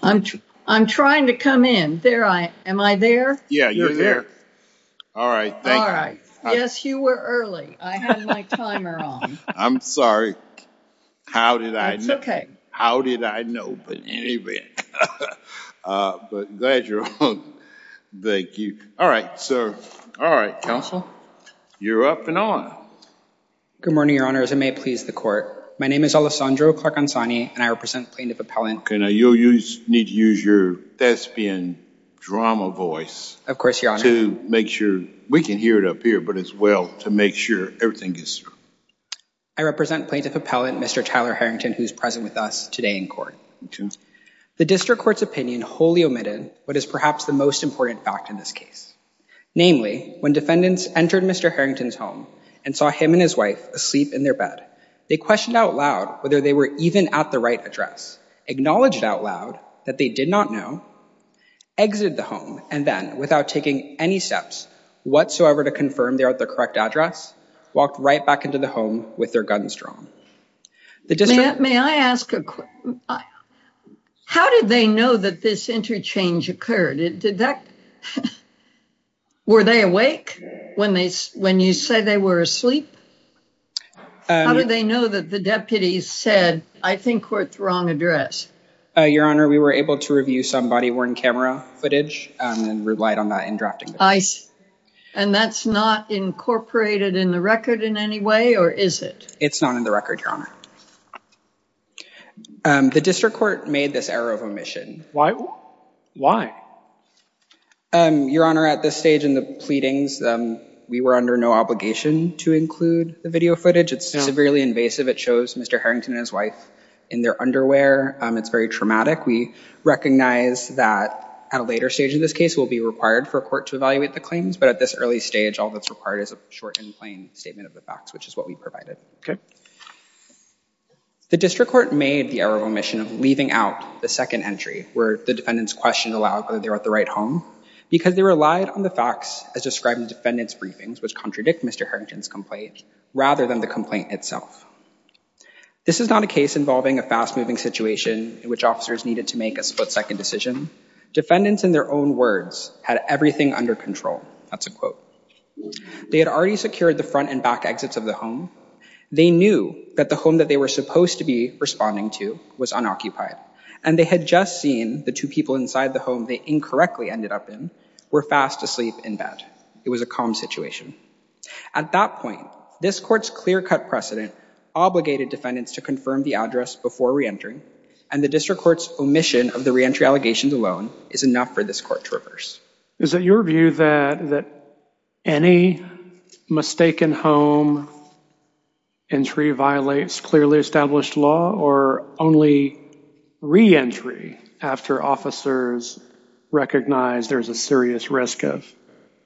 I'm I'm trying to come in there. I am I there? Yeah, you're there. All right. All right. Yes, you were early. I had my timer on. I'm sorry. How did I know? Okay. How did I know? But anyway, but glad you're on. Thank you. All right, sir. All right, counsel. You're up and on. Good morning, Your Honor, as I may please the court. My name is Alessandro Clark-Gonzani, and I represent Plaintiff Appellant. Okay, now you need to use your thespian drama voice. Of course, Your Honor. To make sure we can hear it up here, but as well to make sure everything is I represent Plaintiff Appellant Mr. Tyler Harrington, who's present with us today in court. The district court's opinion wholly omitted what is perhaps the most important fact in this case. Namely, when defendants entered Mr. Harrington's home and saw him and his wife asleep in their bed, they questioned out loud whether they were even at the right address, acknowledged out loud that they did not know, exited the home, and then without taking any steps whatsoever to confirm they're at the correct address, walked right back into the home with their guns drawn. May I ask a question? How did they know that this interchange occurred? Were they awake when you say they were asleep? How did they know that the deputy said, I think we're at the wrong address? Your Honor, we were able to review some body-worn camera footage and relied on that in drafting. And that's not incorporated in the record in any way, or is it? It's not in the record, Your Honor. The district court made this error of omission. Why? Your Honor, at this stage in the pleadings, we were under no obligation to include the video footage. It's severely invasive. It shows Mr. Harrington and his wife in their underwear. It's very traumatic. We recognize that at a later stage in this case, we'll be required for a court to evaluate the claims. But at this early stage, all that's required is a short and plain statement of the facts, which is what we provided. Okay. The district court made the error of omission of leaving out the second entry, where the defendants questioned aloud whether they were at the right home, because they relied on the facts as described in the defendants' briefings, which contradict Mr. Harrington's complaint, rather than the complaint itself. This is not a case involving a fast-moving situation in which officers needed to make a split-second decision. Defendants, in their own words, had everything under control. That's a quote. They had already secured the front and back exits of the home. They knew that the home that they were supposed to be responding to was unoccupied, and they had just seen the two people inside the home they incorrectly ended up in were fast asleep in bed. It was a calm situation. At that point, this court's clear-cut precedent obligated defendants to confirm the address before re-entering, and the district court's omission of the re-entry allegations alone is enough for this court to reverse. Is it your view that any mistaken home entry violates clearly established law, or only re-entry after officers recognize there's a serious risk of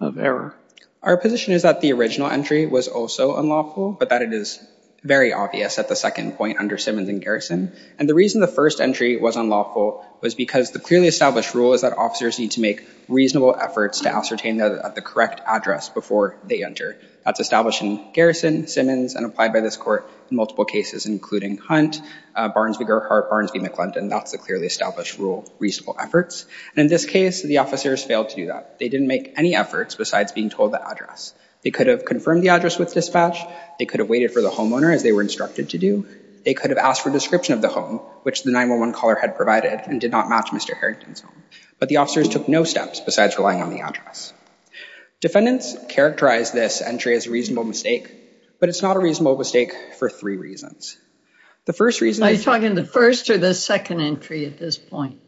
error? Our position is that the original entry was also unlawful, but that it is very obvious at the second point under Simmons and Garrison. And the reason the first entry was unlawful was because the clearly established rule is that officers need to make reasonable efforts to ascertain that the correct address before they enter. That's established in Garrison, Simmons, and applied by this court in multiple cases, including Hunt, Barnes v. Gerhardt, Barnes v. McClendon. That's the clearly established rule, reasonable efforts. And in this case, the officers failed to do that. They didn't make any efforts besides being told the address. They could have confirmed the address with dispatch. They could have waited for the homeowner, as they were instructed to do. They could have asked for a description of the home, which the 911 caller had provided and did not match Mr. Harrington's home. But the officers took no steps besides relying on the address. Defendants characterize this entry as a reasonable mistake, but it's not a reasonable mistake for three reasons. The first reason... Are you talking the first or the second entry at this point?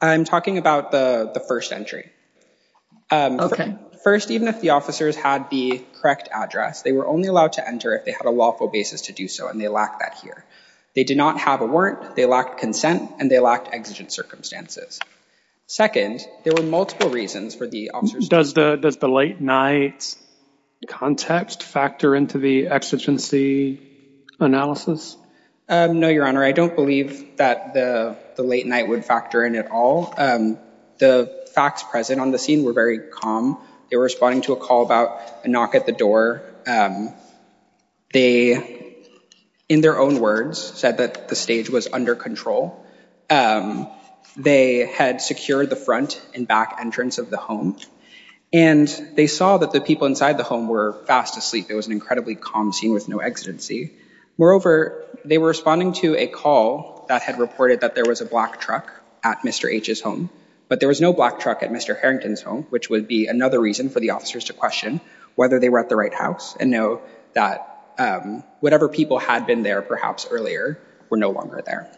I'm talking about the first entry. Okay. First, even if the officers had the correct address, they were only allowed to enter if they had a lawful basis to do so, and they lack that here. They did not have a warrant. They lacked consent, and they lacked exigent circumstances. Second, there were multiple reasons for the officers... Does the late night context factor into the exigency analysis? No, Your Honor. I don't believe that the late night would factor in at all. The facts present on the scene were very calm. They were responding to a call about a knock at the door. They, in their own words, said that the stage was under control. They had secured the front and back entrance of the home, and they saw that the people inside the home were fast asleep. It was an incredibly calm scene with no exigency. Moreover, they were responding to a call that had reported that there was a black truck at Mr. H's home, but there was no black truck at Mr. Harrington's home, which would be another reason for the officers to whether they were at the right house and know that whatever people had been there, perhaps earlier, were no longer there.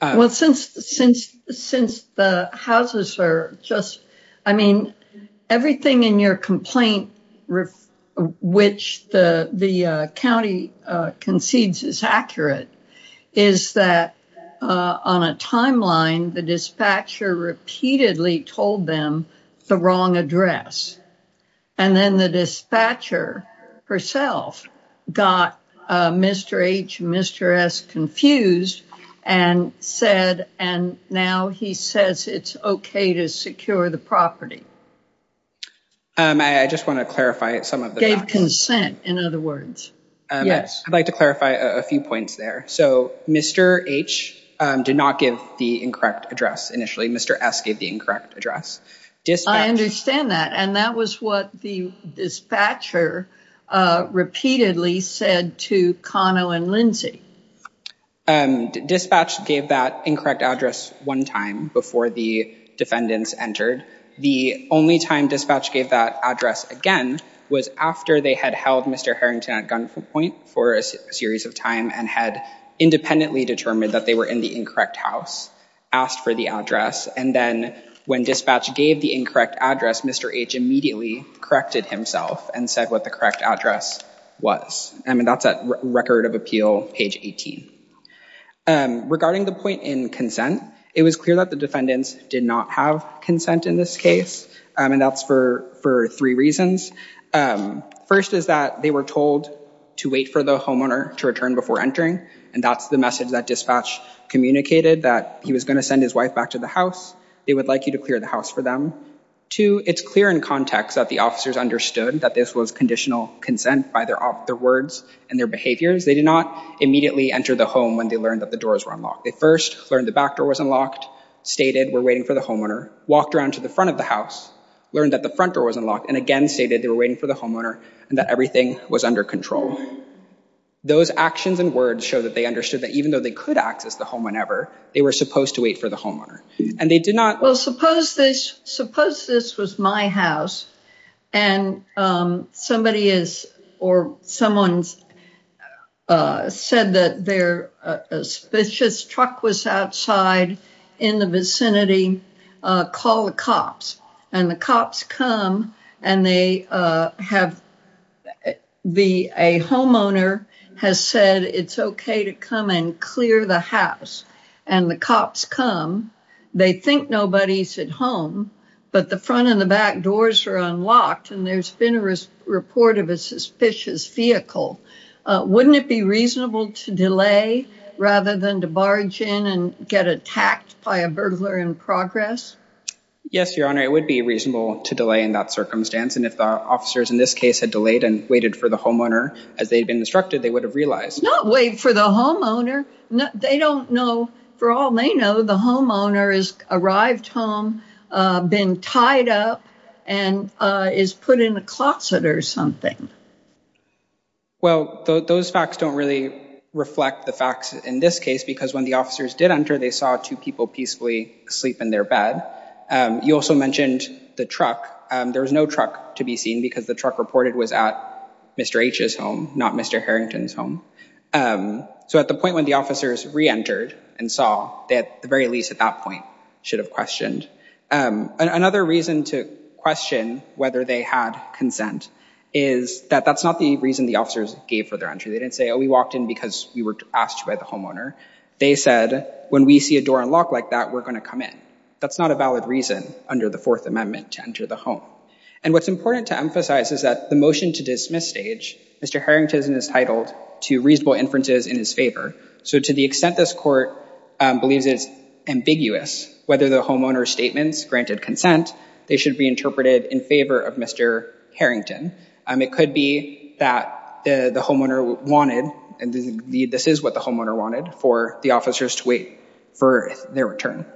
Well, since the houses are just... I mean, everything in your complaint, which the county concedes is accurate, is that on a timeline, the dispatcher repeatedly told them the wrong address. And then the dispatcher herself got Mr. H and Mr. S confused and said, and now he says it's okay to secure the property. I just want to clarify some of the facts. Gave consent, in other words. Yes. I'd like to clarify a few points there. So Mr. H did not give the incorrect address initially. Mr. S gave the incorrect address. I understand that. And that was what the dispatcher repeatedly said to Kano and Lindsey. Dispatch gave that incorrect address one time before the defendants entered. The only time dispatch gave that address again was after they had held Mr. Harrington at gunpoint for a series of time and had independently determined that they were in the incorrect house, asked for the address. And then when dispatch gave the incorrect address, Mr. H immediately corrected himself and said what the correct address was. I mean, that's at Record of Appeal, page 18. Regarding the point in consent, it was clear that the defendants did not have consent in this case. And that's for three reasons. First is that they were told to wait for the homeowner to return before entering. And that's the message that dispatch communicated, that he was going to send his wife back to the house. They would like you to clear the house for them. Two, it's clear in context that the officers understood that this was conditional consent by their words and their behaviors. They did not immediately enter the home when they learned that the doors were unlocked. They first learned the back door wasn't locked, stated we're waiting for the homeowner, walked around to the front of the house, learned that the front door wasn't locked, and again stated they were waiting for the homeowner and that everything was under control. Those actions and words show that they understood that even though they could access the home whenever, they were supposed to wait for the homeowner. And they did not... Well, suppose this was my house and somebody or someone said that their suspicious truck was outside in the vicinity, call the cops. And the cops come and a homeowner has said, it's okay to come and clear the house. And the cops come, they think nobody's at home, but the front and the back doors are unlocked and there's been a report of a suspicious vehicle. Wouldn't it be reasonable to delay rather than to barge in and get attacked by a burglar in progress? Yes, Your Honor, it would be reasonable to delay in that circumstance. And if the officers in this case had delayed and waited for the homeowner as they'd been instructed, they would have realized. Not wait for the homeowner. They don't know, for all they know, the homeowner has arrived home, been tied up and is put in a closet or something. Well, those facts don't really reflect the facts in this case because when the officers did enter, they saw two people peacefully sleep in their bed. You also mentioned the truck. There was no to be seen because the truck reported was at Mr. H's home, not Mr. Harrington's home. So at the point when the officers re-entered and saw, they at the very least at that point should have questioned. Another reason to question whether they had consent is that that's not the reason the officers gave for their entry. They didn't say, oh, we walked in because we were asked by the homeowner. They said, when we see a door unlocked like that, we're going to come in. That's not a valid reason under the fourth amendment to enter the home. And what's important to emphasize is that the motion to dismiss stage, Mr. Harrington is titled to reasonable inferences in his favor. So to the extent this court believes it's ambiguous, whether the homeowner's statements granted consent, they should be interpreted in favor of Mr. Harrington. It could be that the homeowner wanted, and this is what the homeowner wanted, for the officers to wait for their return.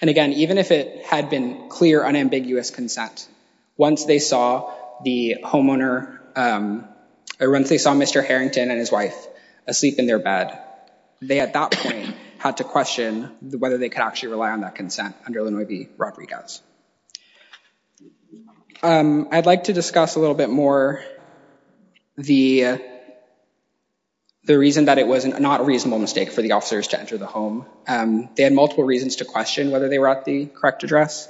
And again, even if it had been clear unambiguous consent, once they saw the homeowner, once they saw Mr. Harrington and his wife asleep in their bed, they at that point had to question whether they could actually rely on that consent under Rodriguez. I'd like to discuss a little bit more the reason that it was not a reasonable mistake for the officers to enter the home. They had multiple reasons to question whether they were at the correct address.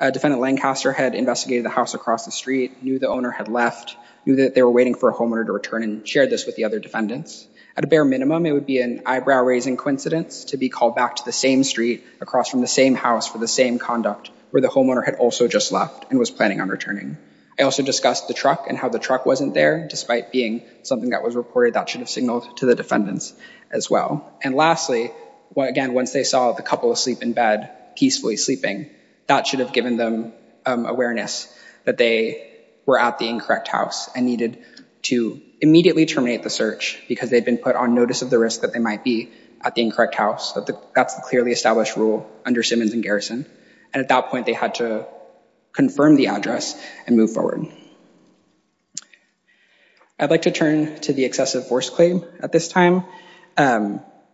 Defendant Lancaster had investigated the house across the street, knew the owner had left, knew that they were waiting for a homeowner to return and shared this with the other defendants. At a bare minimum, it would be an eyebrow-raising coincidence to be back to the same street across from the same house for the same conduct where the homeowner had also just left and was planning on returning. I also discussed the truck and how the truck wasn't there, despite being something that was reported that should have signaled to the defendants as well. And lastly, again, once they saw the couple asleep in bed, peacefully sleeping, that should have given them awareness that they were at the incorrect house and needed to immediately terminate the search because they'd been put on notice of the risk that they might be at the incorrect house. That's the clearly established rule under Simmons and Garrison. And at that point, they had to confirm the address and move forward. I'd like to turn to the excessive force claim at this time.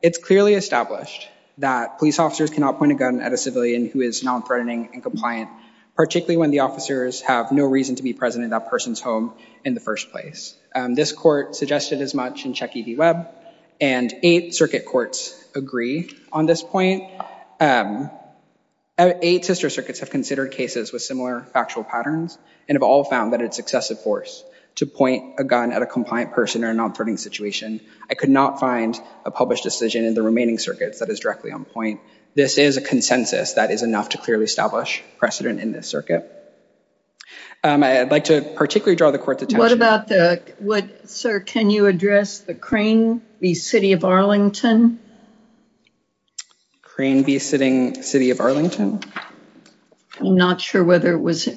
It's clearly established that police officers cannot point a gun at a civilian who is non-threatening and compliant, particularly when the officers have no reason to be present in that person's home in the first place. This court suggested as much in Check ED Webb, and eight circuit courts agree on this point. Eight sister circuits have considered cases with similar factual patterns and have all found that it's excessive force to point a gun at a compliant person in a non-threatening situation. I could not find a published decision in the remaining circuits that is directly on point. This is a consensus that is enough to clearly establish precedent in this circuit. I'd like to draw the court's attention... What about the... Sir, can you address the Crane v. City of Arlington? Crane v. City of Arlington? I'm not sure whether it was...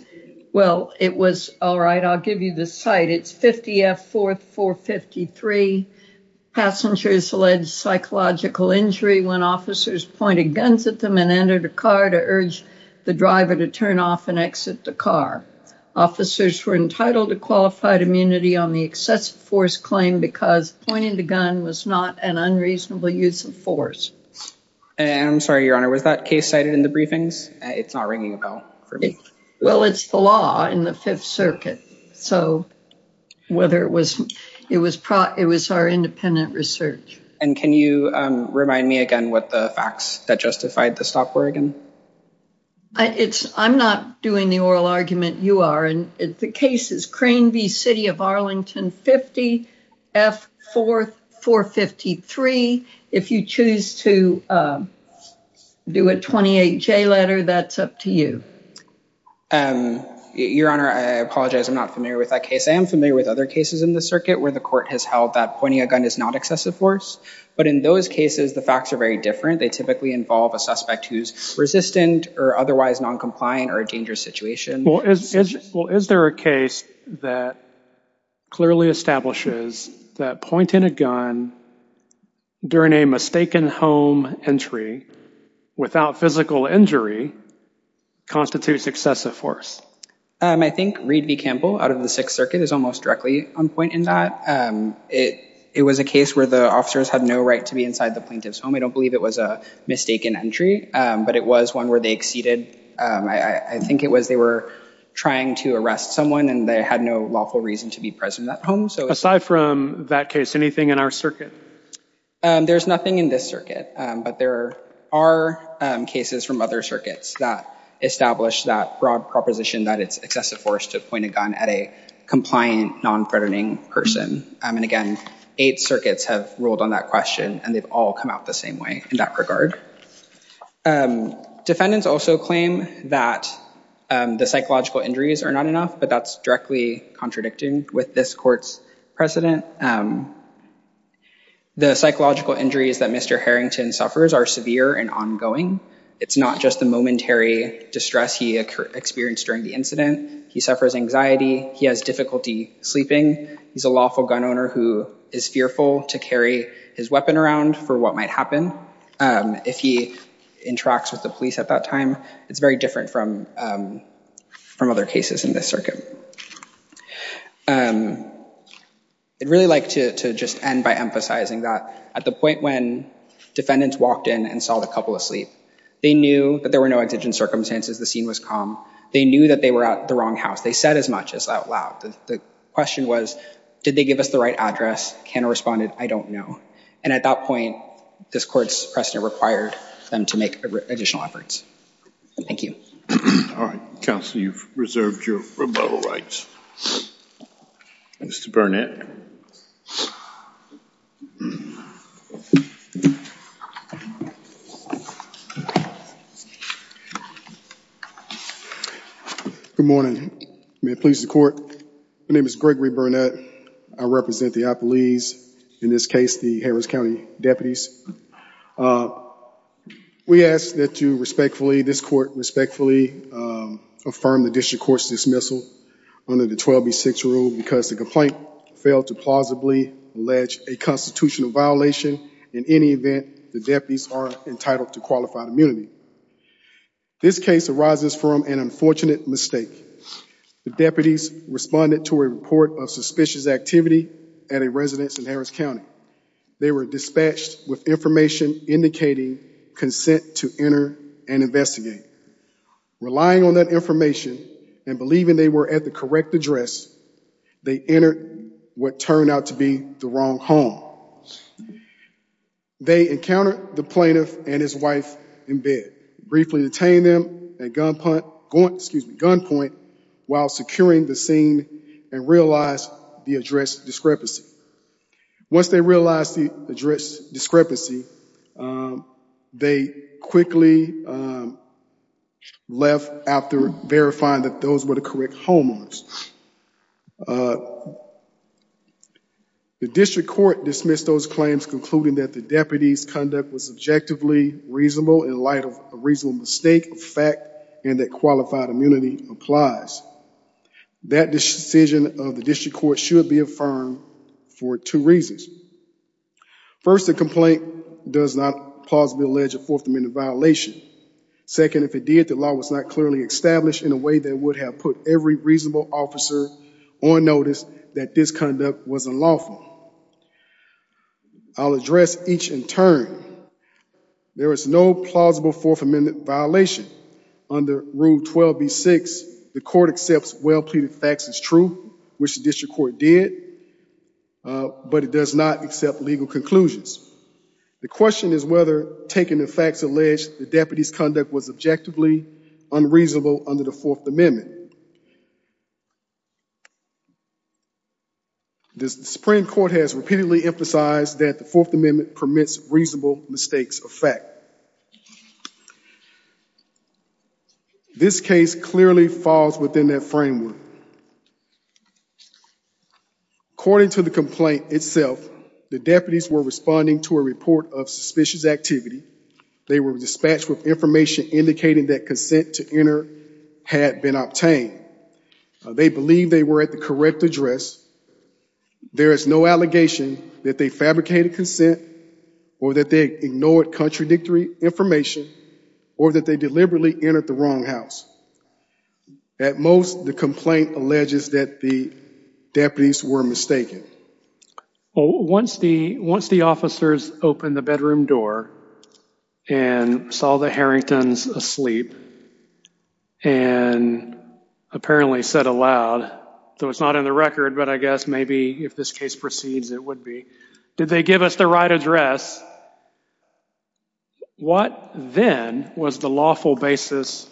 Well, it was... All right, I'll give you the site. It's 50F 4th 453. Passengers alleged psychological injury when officers pointed guns at them and entered a car to urge the driver to turn off and exit the car. Officers were entitled to qualified immunity on the excessive force claim because pointing the gun was not an unreasonable use of force. And I'm sorry, Your Honor, was that case cited in the briefings? It's not ringing a bell for me. Well, it's the law in the Fifth Circuit, so whether it was... It was our independent research. And can you remind me again what the facts that justified the stop were again? I'm not doing the oral argument you are. The case is Crane v. City of Arlington 50F 4th 453. If you choose to do a 28J letter, that's up to you. Your Honor, I apologize. I'm not familiar with that case. I am familiar with other cases in the circuit where the court has held that pointing a gun is not excessive force. But in those cases, the facts are very different. They typically involve a suspect who's resistant or otherwise non-compliant or a dangerous situation. Well, is there a case that clearly establishes that pointing a gun during a mistaken home entry without physical injury constitutes excessive force? I think Reed v. Campbell out of the Sixth Circuit is almost directly on point in that. It was a case where the officers had no right to be inside the plaintiff's home. I don't believe it was a mistaken entry, but it was one where they exceeded. I think it was they were trying to arrest someone and they had no lawful reason to be present at home. Aside from that case, anything in our circuit? There's nothing in this circuit, but there are cases from other circuits that establish that broad proposition that it's excessive force to point a gun at a compliant non-threatening person. And again, eight circuits have ruled on that question and they've all come out the same way in that regard. Defendants also claim that the psychological injuries are not enough, but that's directly contradicting with this court's precedent. The psychological injuries that Mr. Harrington suffers are severe and ongoing. It's not just the momentary distress he experienced during the incident. He suffers anxiety. He has difficulty sleeping. He's a gun owner who is fearful to carry his weapon around for what might happen if he interacts with the police at that time. It's very different from other cases in this circuit. I'd really like to just end by emphasizing that at the point when defendants walked in and saw the couple asleep, they knew that there were no exigent circumstances. The scene was calm. They knew that they were at the wrong house. They said as much as out loud. The question was, did they give us the right address? Kenna responded, I don't know. And at that point, this court's precedent required them to make additional efforts. Thank you. All right. Counsel, you've reserved your rebuttal rights. Mr. Burnett. Good morning. May it please the court. My name is Gregory Burnett. I represent the police, in this case, the Harris County deputies. We ask that you respectfully, this court respectfully, affirm the district court's dismissal under the 12B6 rule because the complaint failed to plausibly allege a constitutional violation. In any event, the deputies are entitled to qualified immunity. This case arises from an unfortunate mistake. The deputies responded to a report of suspicious activity at a residence in Harris County. They were dispatched with information indicating consent to enter and investigate. Relying on that information and believing they were at the correct address, they entered what turned out to be the wrong home. They encountered the plaintiff and his wife in bed. Briefly detained them at gunpoint while securing the scene and realized the address discrepancy. Once they realized the address discrepancy, they quickly left after verifying that those were the correct homeowners. The district court dismissed those claims concluding that the deputies' conduct was objectively reasonable in light of a reasonable mistake, a fact, and that qualified immunity applies. That decision of the district court should be affirmed for two reasons. First, the complaint does not plausibly allege a Fourth Amendment violation. Second, if it did, the law was not clearly established in a way that would have put every reasonable officer on notice that this conduct was unlawful. I'll address each in turn. There is no plausible Fourth Amendment violation. Under Rule 12B6, the court accepts well-pleaded facts as true, which the district court did, but it does not accept legal conclusions. The question is whether taking the facts alleged the deputies' conduct was objectively unreasonable under the Fourth Amendment. The Supreme Court has repeatedly emphasized that the Fourth Amendment permits reasonable mistakes of fact. This case clearly falls within that framework. According to the complaint itself, the deputies were responding to a report of suspicious activity. They were dispatched with information indicating that consent to enter had been obtained. They believed they were at the correct address. There is no allegation that they had fabricated consent or that they ignored contradictory information or that they deliberately entered the wrong house. At most, the complaint alleges that the deputies were mistaken. Well, once the officers opened the bedroom door and saw the Harringtons asleep and apparently said aloud, though it's not in the record, but I guess maybe if this case proceeds, it would be, did they give us the right address? What then was the lawful basis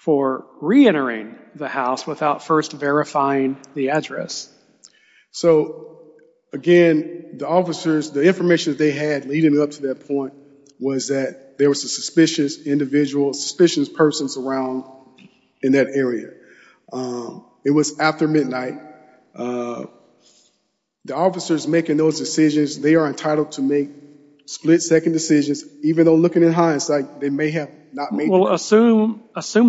for reentering the house without first verifying the address? So, again, the officers, the information they had leading up to that point was that there was a suspicious individual, suspicious persons around in that area. It was after midnight. The officers making those decisions, they are entitled to make split-second decisions even though looking at hindsight, they may have not made them. Well, assume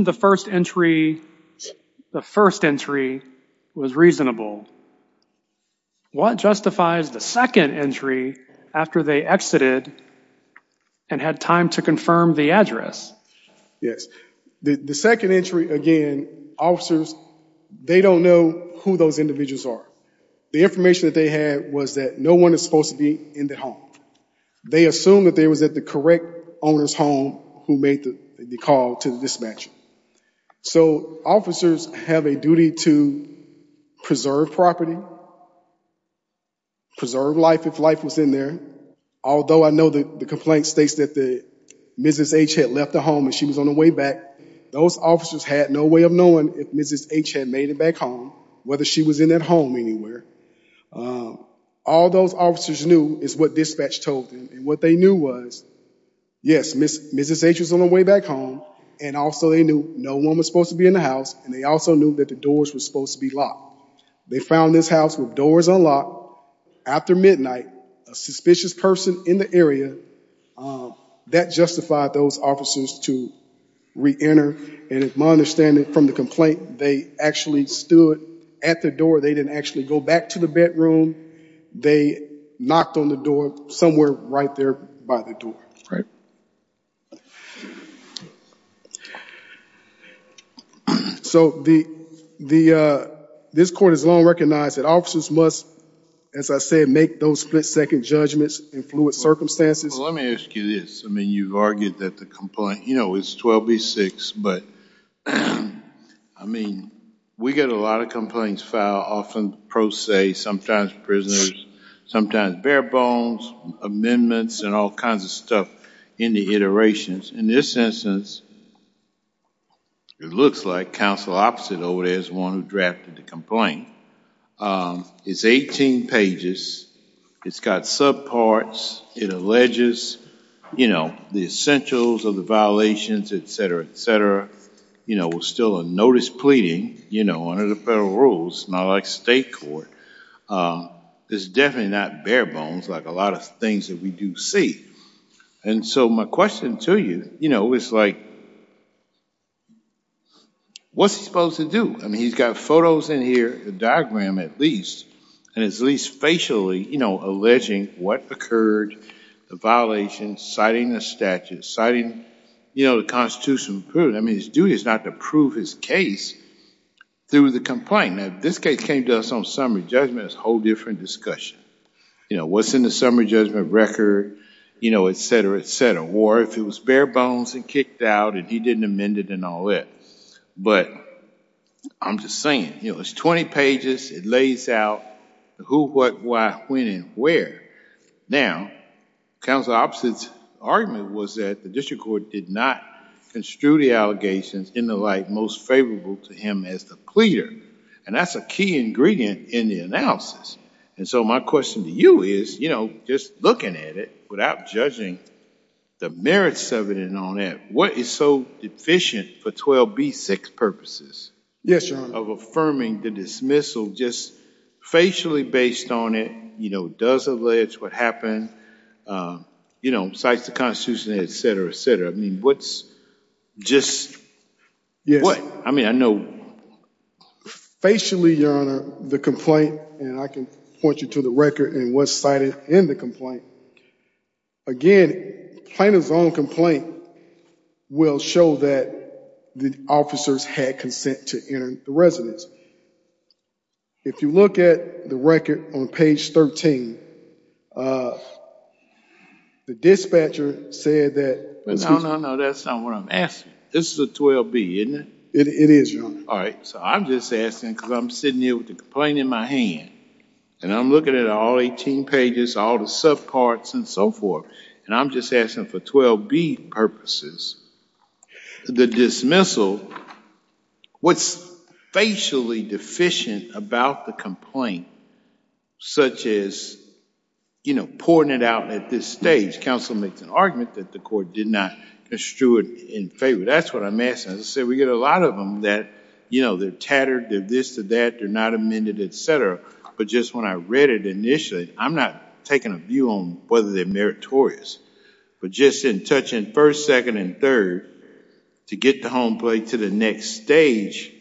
the first entry was reasonable. What justifies the second entry after they exited and had time to confirm the address? Yes. The second entry, again, officers, they don't know who those individuals are. The information that they had was that no one is supposed to be in the home. They assumed that they was at the correct owner's home who made the call to the dispatcher. So, officers have a duty to preserve property, preserve life if life was in there, although I know that the complaint states that Mrs. H had left the home and she was on her way back. Those officers had no way of knowing if Mrs. H had made it back home, whether she was in that home anywhere. All those officers knew is what dispatch told them, and what they knew was, yes, Mrs. H was on her way back home, and also they knew no one was supposed to be in the house, and they also knew that the doors were supposed to be locked. They found this house with doors unlocked. After midnight, a suspicious person in the area, that justified those officers to re-enter, and my understanding from the complaint, they actually stood at the door. They didn't actually go back to the bedroom. They knocked on the door somewhere right there by the door. So, this court has long recognized that officers must, as I said, make those split-second judgments in fluid circumstances. Let me ask you this. I mean, you've argued that the complaint, you know, it's 12B6, but I mean, we get a lot of complaints filed, often pro se, sometimes prisoners, sometimes bare bones, amendments, and all kinds of stuff in the iterations. In this instance, it looks like counsel opposite over there is the one who drafted the complaint. It's 18 pages. It's got subparts. It alleges, you know, the essentials of the violations, et cetera, et cetera. You know, we're still on notice pleading, you know, under the federal rules, not like state court. It's definitely not bare bones like a lot of things that we do see, and so my question to you, you know, is like, what's he supposed to do? I mean, he's got photos in here, a diagram at least, and it's at least facially, you know, alleging what occurred, the violation, citing the statute, citing, you know, the Constitution. I mean, his duty is not to prove his case through the complaint. Now, if this case came to us on summary judgment, it's a whole different discussion. You know, what's in the summary judgment record, you know, et cetera, et cetera, if it was bare bones and kicked out and he didn't amend it and all that, but I'm just saying, you know, it's 20 pages. It lays out the who, what, why, when, and where. Now, counsel opposite's argument was that the district court did not construe the allegations in the light most favorable to him as the pleader, and that's a key ingredient in the analysis, and so my question to you is, you know, just looking at it without judging the merits of it and all that, what is so deficient for 12b6 purposes of affirming the dismissal just facially based on it, you know, does allege what happened, you know, cites the Constitution, et cetera, et cetera. I mean, what's just, what? I mean, I know. Facially, your honor, the complaint, and I can point you to the record and what's cited in the complaint. Again, plaintiff's own complaint will show that the officers had consent to enter the residence. If you look at the record on page 13, the dispatcher said that. No, no, no, that's not what I'm asking. This is a 12b, isn't it? It is, your honor. All right, so I'm just asking because I'm sitting here with the complaint in my hand, and I'm looking at all 18 pages, all the subparts and so forth, and I'm just asking for 12b purposes. The dismissal, what's facially deficient about the complaint such as, you know, pouring it out at this stage. Counsel makes an argument that the court did not construe it in favor. That's what I'm asking. As I said, we get a lot of them that, you know, they're tattered, they're this to that, they're not amended, et cetera, but just when I read it initially, I'm not taking a view on whether they're meritorious, but just in touching first, second, and third to get the home plate to the next stage,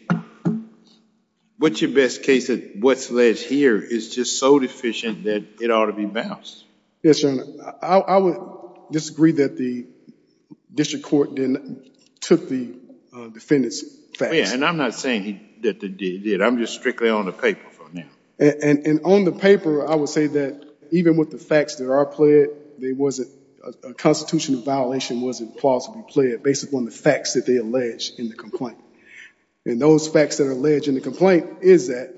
what's your best case that what's alleged here is just so deficient that it ought to be bounced? Yes, your honor. I would disagree that the district court then took the defendant's facts. Yeah, and I'm not saying that they did. I'm just strictly on the paper for now. And on the paper, I would say that even with the facts that are pled, a constitutional violation wasn't plausibly pled based upon the facts that they alleged in the complaint. And those facts that are alleged in the complaint is that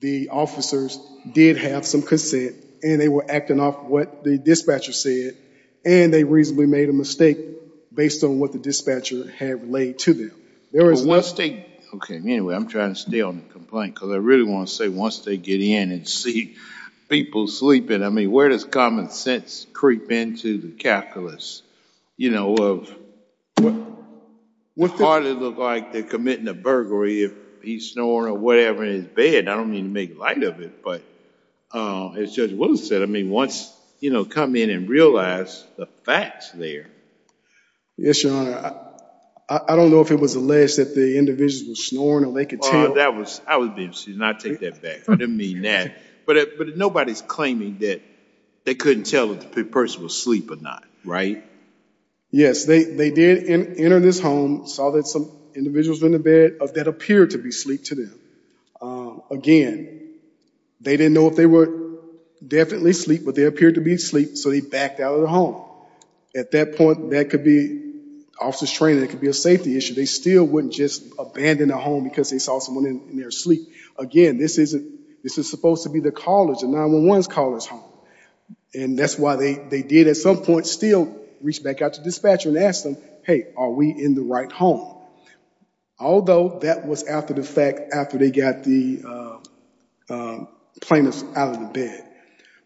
the officers did have some consent, and they were acting off what the dispatcher said, and they reasonably made a mistake based on what the dispatcher had laid to them. There is one state, okay, anyway, I'm trying to stay on the complaint because I really want to say once they get in and see people sleeping, I mean, where does common sense creep into the calculus, you know, of what hardly look like they're committing a burglary if he's snoring or whatever in his bed? I don't mean to make light of it, but as Judge Willis said, I mean, once, you know, come in and realize the facts there. Yes, your honor. I don't know if it was alleged that the individuals were snoring or they could tell. That was, I would be interested, and I'd take that back. I didn't mean that. But nobody's claiming that they couldn't tell if the person was asleep or not, right? Yes, they did enter this home, saw that some individuals were in the bed that appeared to be asleep to them. Again, they didn't know if they were definitely asleep, but they appeared to be asleep, so they backed out of the home. At that point, that could be officer's training. It could be a safety issue. They still wouldn't just abandon a home because they saw someone in their sleep. Again, this is supposed to be the college, the 911's college home, and that's why they did at some point still reach back out to dispatcher and ask them, hey, are we in the right home? Although, that was after the fact, after they got the plaintiffs out of the bed.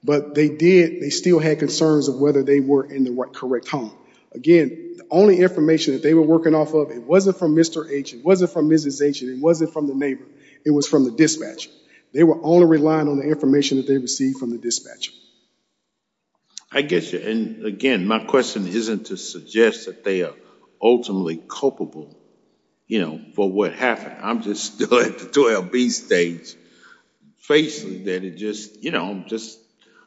But they did, they still had concerns of whether they were in the correct home. Again, the only information that they were working off of, it wasn't from Mr. H. It wasn't from Mrs. H. It wasn't from the neighbor. It was from the dispatcher. They were only relying on the information that they received from the dispatcher. I guess, and again, my question isn't to suggest that they are ultimately culpable for what happened. I'm just still at the 12B stage, facing that it just,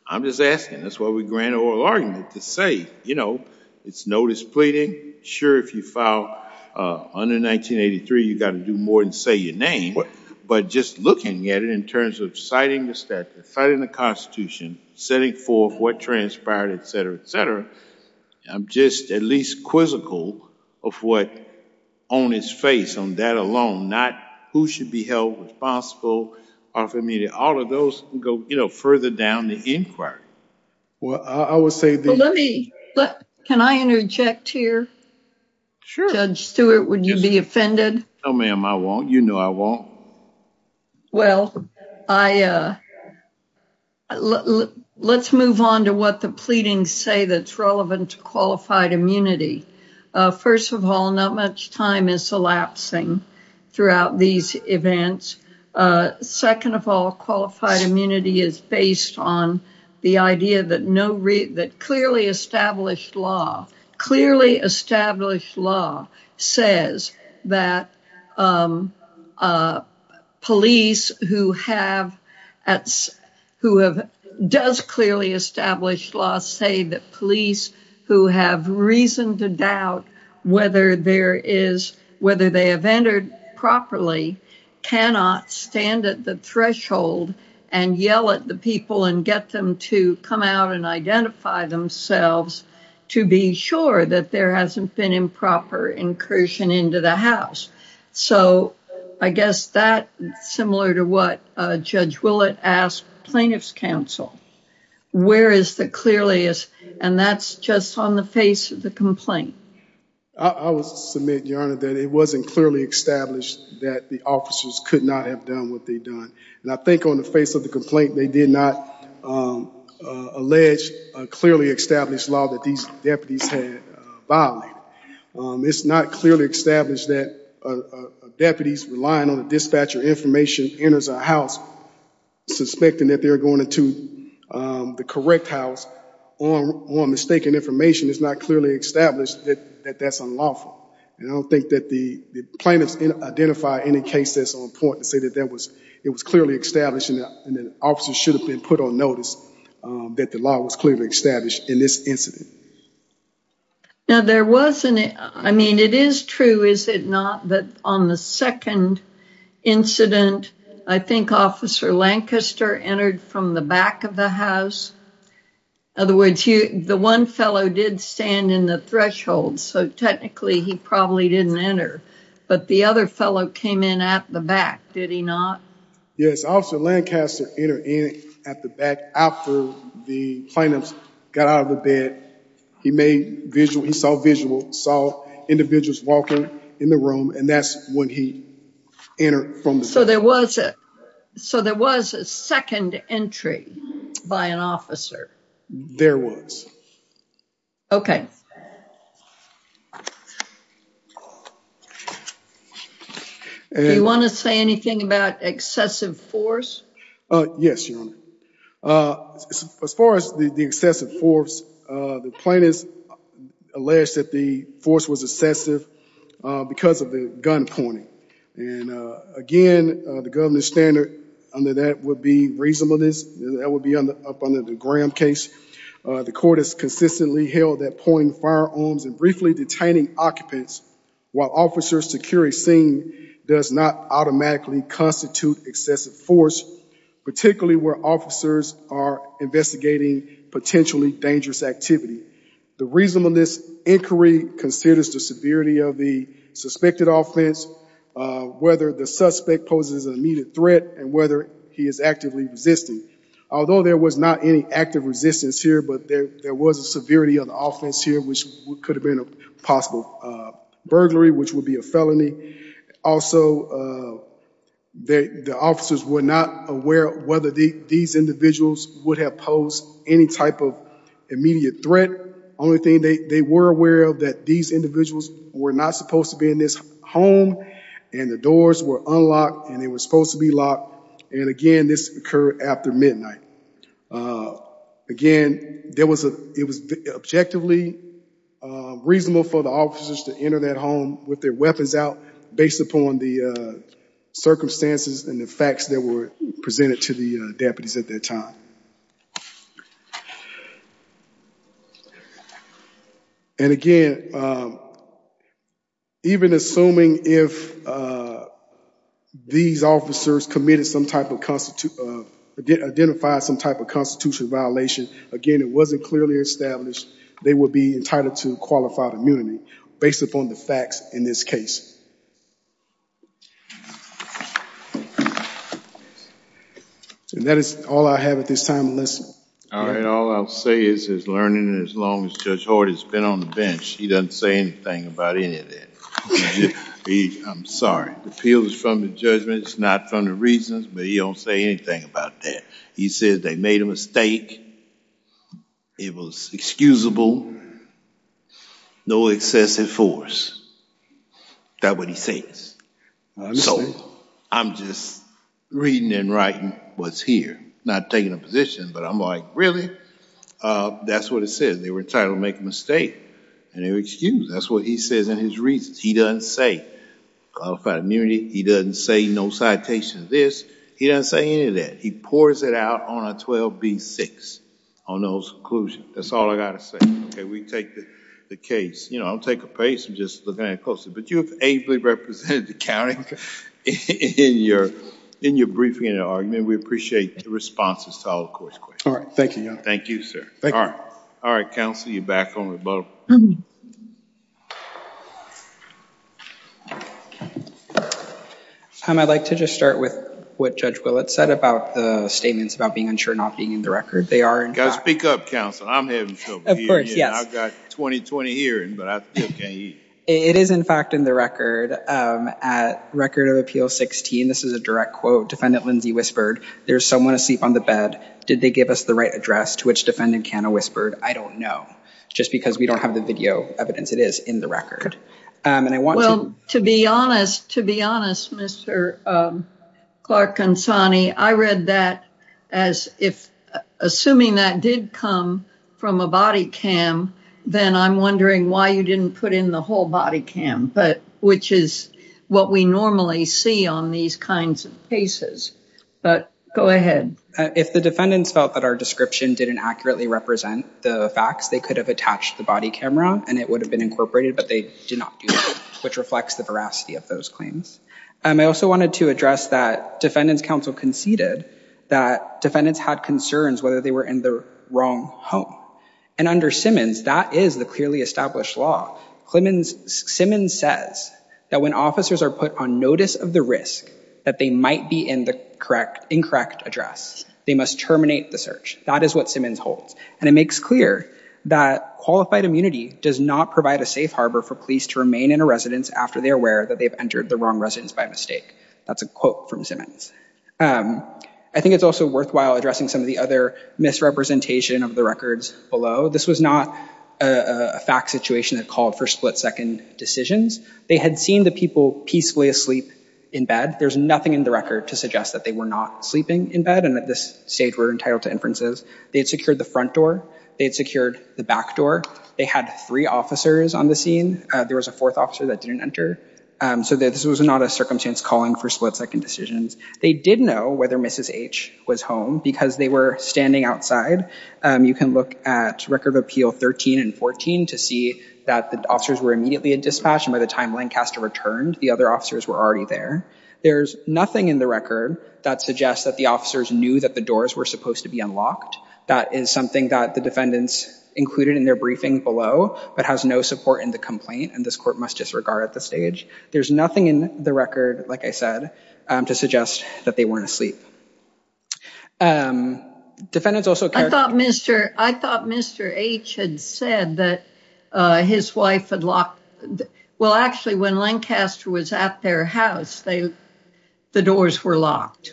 I'm just asking. That's why we grant oral argument to say, it's notice pleading. Sure, if you file under 1983, you got to do more than say your name, but just looking at it in terms of citing the statute, citing the constitution, setting forth what transpired, et cetera, et cetera, I'm just at least quizzical of what on its face, on that alone, not who should be held responsible, all of those go further down the inquiry. Well, I would say that- Well, let me, can I interject here? Sure. Judge Stewart, would you be offended? No, ma'am, I won't. You know I won't. Well, let's move on to what the pleadings say that's relevant to qualified immunity. First of all, not much time is elapsing throughout these events. Second of all, qualified immunity is based on the idea that clearly established law, clearly established law says that police who have, who have, does clearly established law say that police who have reason to doubt whether there is, whether they have entered properly cannot stand at the threshold and yell at the people and get them to come out and identify themselves to be sure that there hasn't been improper incursion into the house. So, I guess that, similar to what Judge Willett asked plaintiff's counsel, where is the clearest, and that's just on the face of the complaint. I would submit, Your Honor, that it wasn't clearly established that the officers could not have done what they'd done. And I think on the face of the complaint, they did not allege a clearly established law that these deputies had violated. It's not clearly established that deputies relying on the dispatcher information enters a house suspecting that they're going into the correct house on mistaken information. It's not clearly established that that's unlawful. And I don't think that the plaintiffs identify any case that's on say that that was, it was clearly established and that officers should have been put on notice that the law was clearly established in this incident. Now, there wasn't, I mean, it is true, is it not, that on the second incident, I think Officer Lancaster entered from the back of the house. In other words, the one fellow did stand in the threshold, so technically he probably didn't enter, but the other fellow came in at the back, did he not? Yes, Officer Lancaster entered in at the back after the plaintiffs got out of the bed. He made visual, he saw visual, saw individuals walking in the room, and that's when he entered from the back. So there was a, so there was a second entry by an officer. There was. Okay. Do you want to say anything about excessive force? Yes, Your Honor. As far as the excessive force, the plaintiffs alleged that the force was excessive because of the gun pointing. And again, the governor's standard under that would be reasonableness. That would be up under the Graham case. The court has consistently held that pointing firearms and briefly detaining occupants while officers secure a scene does not automatically constitute excessive force, particularly where officers are investigating potentially dangerous activity. The reasonableness inquiry considers the severity of the suspected offense, whether the suspect poses an immediate threat, and whether he is actively resisting. Although there was not any active resistance here, but there was a severity of the offense here, which could have been a possible burglary, which would be a felony. Also, the officers were not aware whether these individuals would have posed any type of immediate threat. Only thing they were aware of that these individuals were not supposed to be in this home and the doors were unlocked and they were supposed to be locked. And again, this occurred after midnight. Again, there was a, it was objectively reasonable for the officers to enter that home with their weapons out based upon the circumstances and the facts that were presented to the deputies at that time. And again, even assuming if these officers committed some type of constitute, identified some type of constitutional violation, again, it wasn't clearly established they would be entitled to qualified immunity based upon the facts in this case. And that is all I have at this time, Melissa. All right. All I'll say is, is learning as long as Judge Horty's been on the bench, he doesn't say anything about any of that. I'm sorry. The appeal is from the judgment, it's not from the reasons, but he don't say anything about that. He says they made a mistake. It was excusable. No excessive force. Is that what he says? So I'm just reading and writing what's here, not taking a position, but I'm like, really? That's what it says. They were entitled to make a mistake and they were excused. That's what he says in his reasons. He doesn't say qualified immunity. He doesn't say no citation of this. He doesn't say any of that. He pours it out on a 12B6, on those conclusions. That's all I got to say. We take the case. I'll take a pace and just look at it closely, but you have ably represented the county in your briefing and argument. We appreciate the responses to all the court's questions. All right. Thank you, Your Honor. Thank you, sir. All right. All right, counsel, you're back on the boat. I'd like to just start with what Judge Willett said about the statements about being unsure, not being in the record. They are in fact- I've got 20-20 hearing, but I still can't hear you. It is in fact in the record. At Record of Appeal 16, this is a direct quote, Defendant Lindsey whispered, there's someone asleep on the bed. Did they give us the right address to which Defendant Canna whispered? I don't know, just because we don't have the video evidence. It is in the record. And I want to- Well, to be honest, to be honest, Mr. Clark Consani, I read that as if assuming that did come from a body cam, then I'm wondering why you didn't put in the whole body cam, which is what we normally see on these kinds of cases. But go ahead. If the defendants felt that our description didn't accurately represent the facts, they could have attached the body camera and it would have been incorporated, but they did not do that, which reflects the veracity of those claims. I also wanted to address that Defendant's Council conceded that defendants had concerns whether they were in the wrong home. And under Simmons, that is the clearly established law. Simmons says that when officers are put on notice of the risk that they might be in the incorrect address, they must terminate the search. That is what Simmons holds. And it makes clear that qualified immunity does not provide a safe harbor for police to remain in a residence after they're aware that they've entered the wrong residence by mistake. That's a quote from Simmons. I think it's also worthwhile addressing some of the other misrepresentation of the records below. This was not a fact situation that called for split second decisions. They had seen the people peacefully asleep in bed. There's nothing in the record to suggest that they were not sleeping in bed and at this stage were entitled to inferences. They had secured the front door. They had secured the back door. They had three officers on the So this was not a circumstance calling for split second decisions. They did know whether Mrs. H was home because they were standing outside. You can look at Record of Appeal 13 and 14 to see that the officers were immediately dispatched. And by the time Lancaster returned, the other officers were already there. There's nothing in the record that suggests that the officers knew that the doors were supposed to be unlocked. That is something that the defendants included in their complaint and this court must disregard at this stage. There's nothing in the record, like I said, to suggest that they weren't asleep. I thought Mr. H had said that his wife had locked, well actually when Lancaster was at their house, the doors were locked.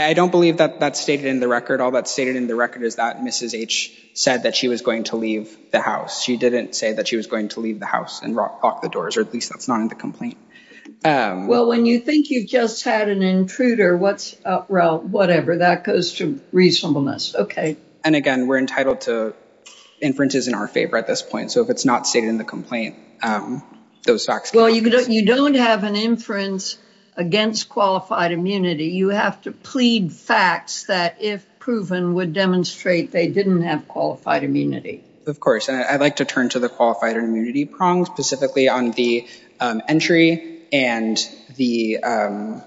I don't believe that that's stated in the record. All that's stated in the record is that Mrs. H said that she was going to leave the house. She didn't say that she was going to leave the house and lock the doors, or at least that's not in the complaint. Well, when you think you've just had an intruder, well, whatever, that goes to reasonableness. Okay. And again, we're entitled to inferences in our favor at this point. So if it's not stated in the complaint, those facts... Well, you don't have an inference against qualified immunity. You have to plead facts that if proven would demonstrate they didn't have qualified immunity. Of course, and I'd like to turn to the qualified immunity prong, specifically on the entry and the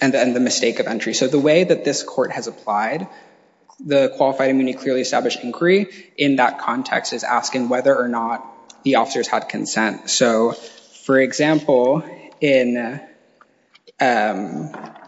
mistake of entry. So the way that this court has applied the qualified immunity clearly established inquiry in that context is asking whether or not the officers had consent. So for example, in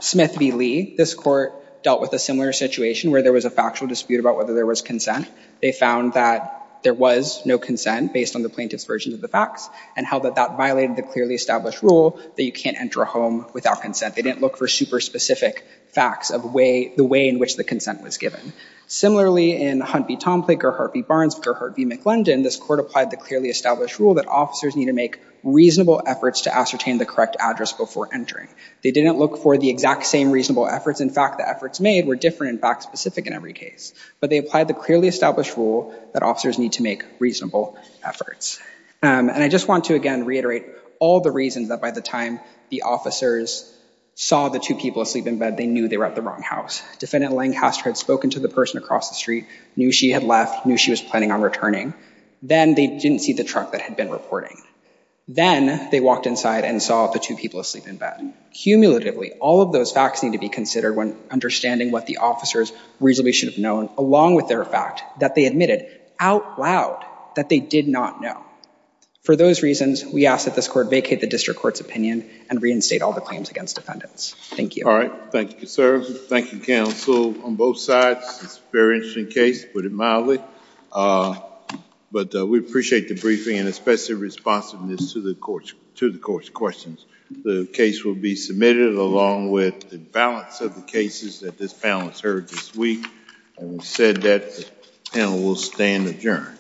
Smith v. Lee, this court dealt with a similar situation where there was a factual dispute about whether there was consent. They found that there was no consent based on the plaintiff's version of the facts and held that that violated the clearly established rule that you can't enter a home without consent. They didn't look for super specific facts of the way in which the consent was given. Similarly, in Hunt v. Tomplake or Hart v. Barnes or Hart v. McLendon, this court applied the clearly established rule that officers need to make reasonable efforts to ascertain the correct entering. They didn't look for the exact same reasonable efforts. In fact, the efforts made were different and fact specific in every case. But they applied the clearly established rule that officers need to make reasonable efforts. And I just want to again reiterate all the reasons that by the time the officers saw the two people asleep in bed, they knew they were at the wrong house. Defendant Lancaster had spoken to the person across the street, knew she had left, knew she was planning on returning. Then they didn't see the truck that had been reporting. Then they walked inside and saw the two people asleep in bed. Cumulatively, all of those facts need to be considered when understanding what the officers reasonably should have known along with their fact that they admitted out loud that they did not know. For those reasons, we ask that this court vacate the district court's opinion and reinstate all the claims against defendants. Thank you. All right. Thank you, sir. Thank you, counsel, on both sides. It's a very interesting case, put it mildly. But we appreciate the briefing and especially responsiveness to the court's questions. The case will be submitted along with the balance of the cases that this panel has heard this week. Having said that, the panel will stand adjourned.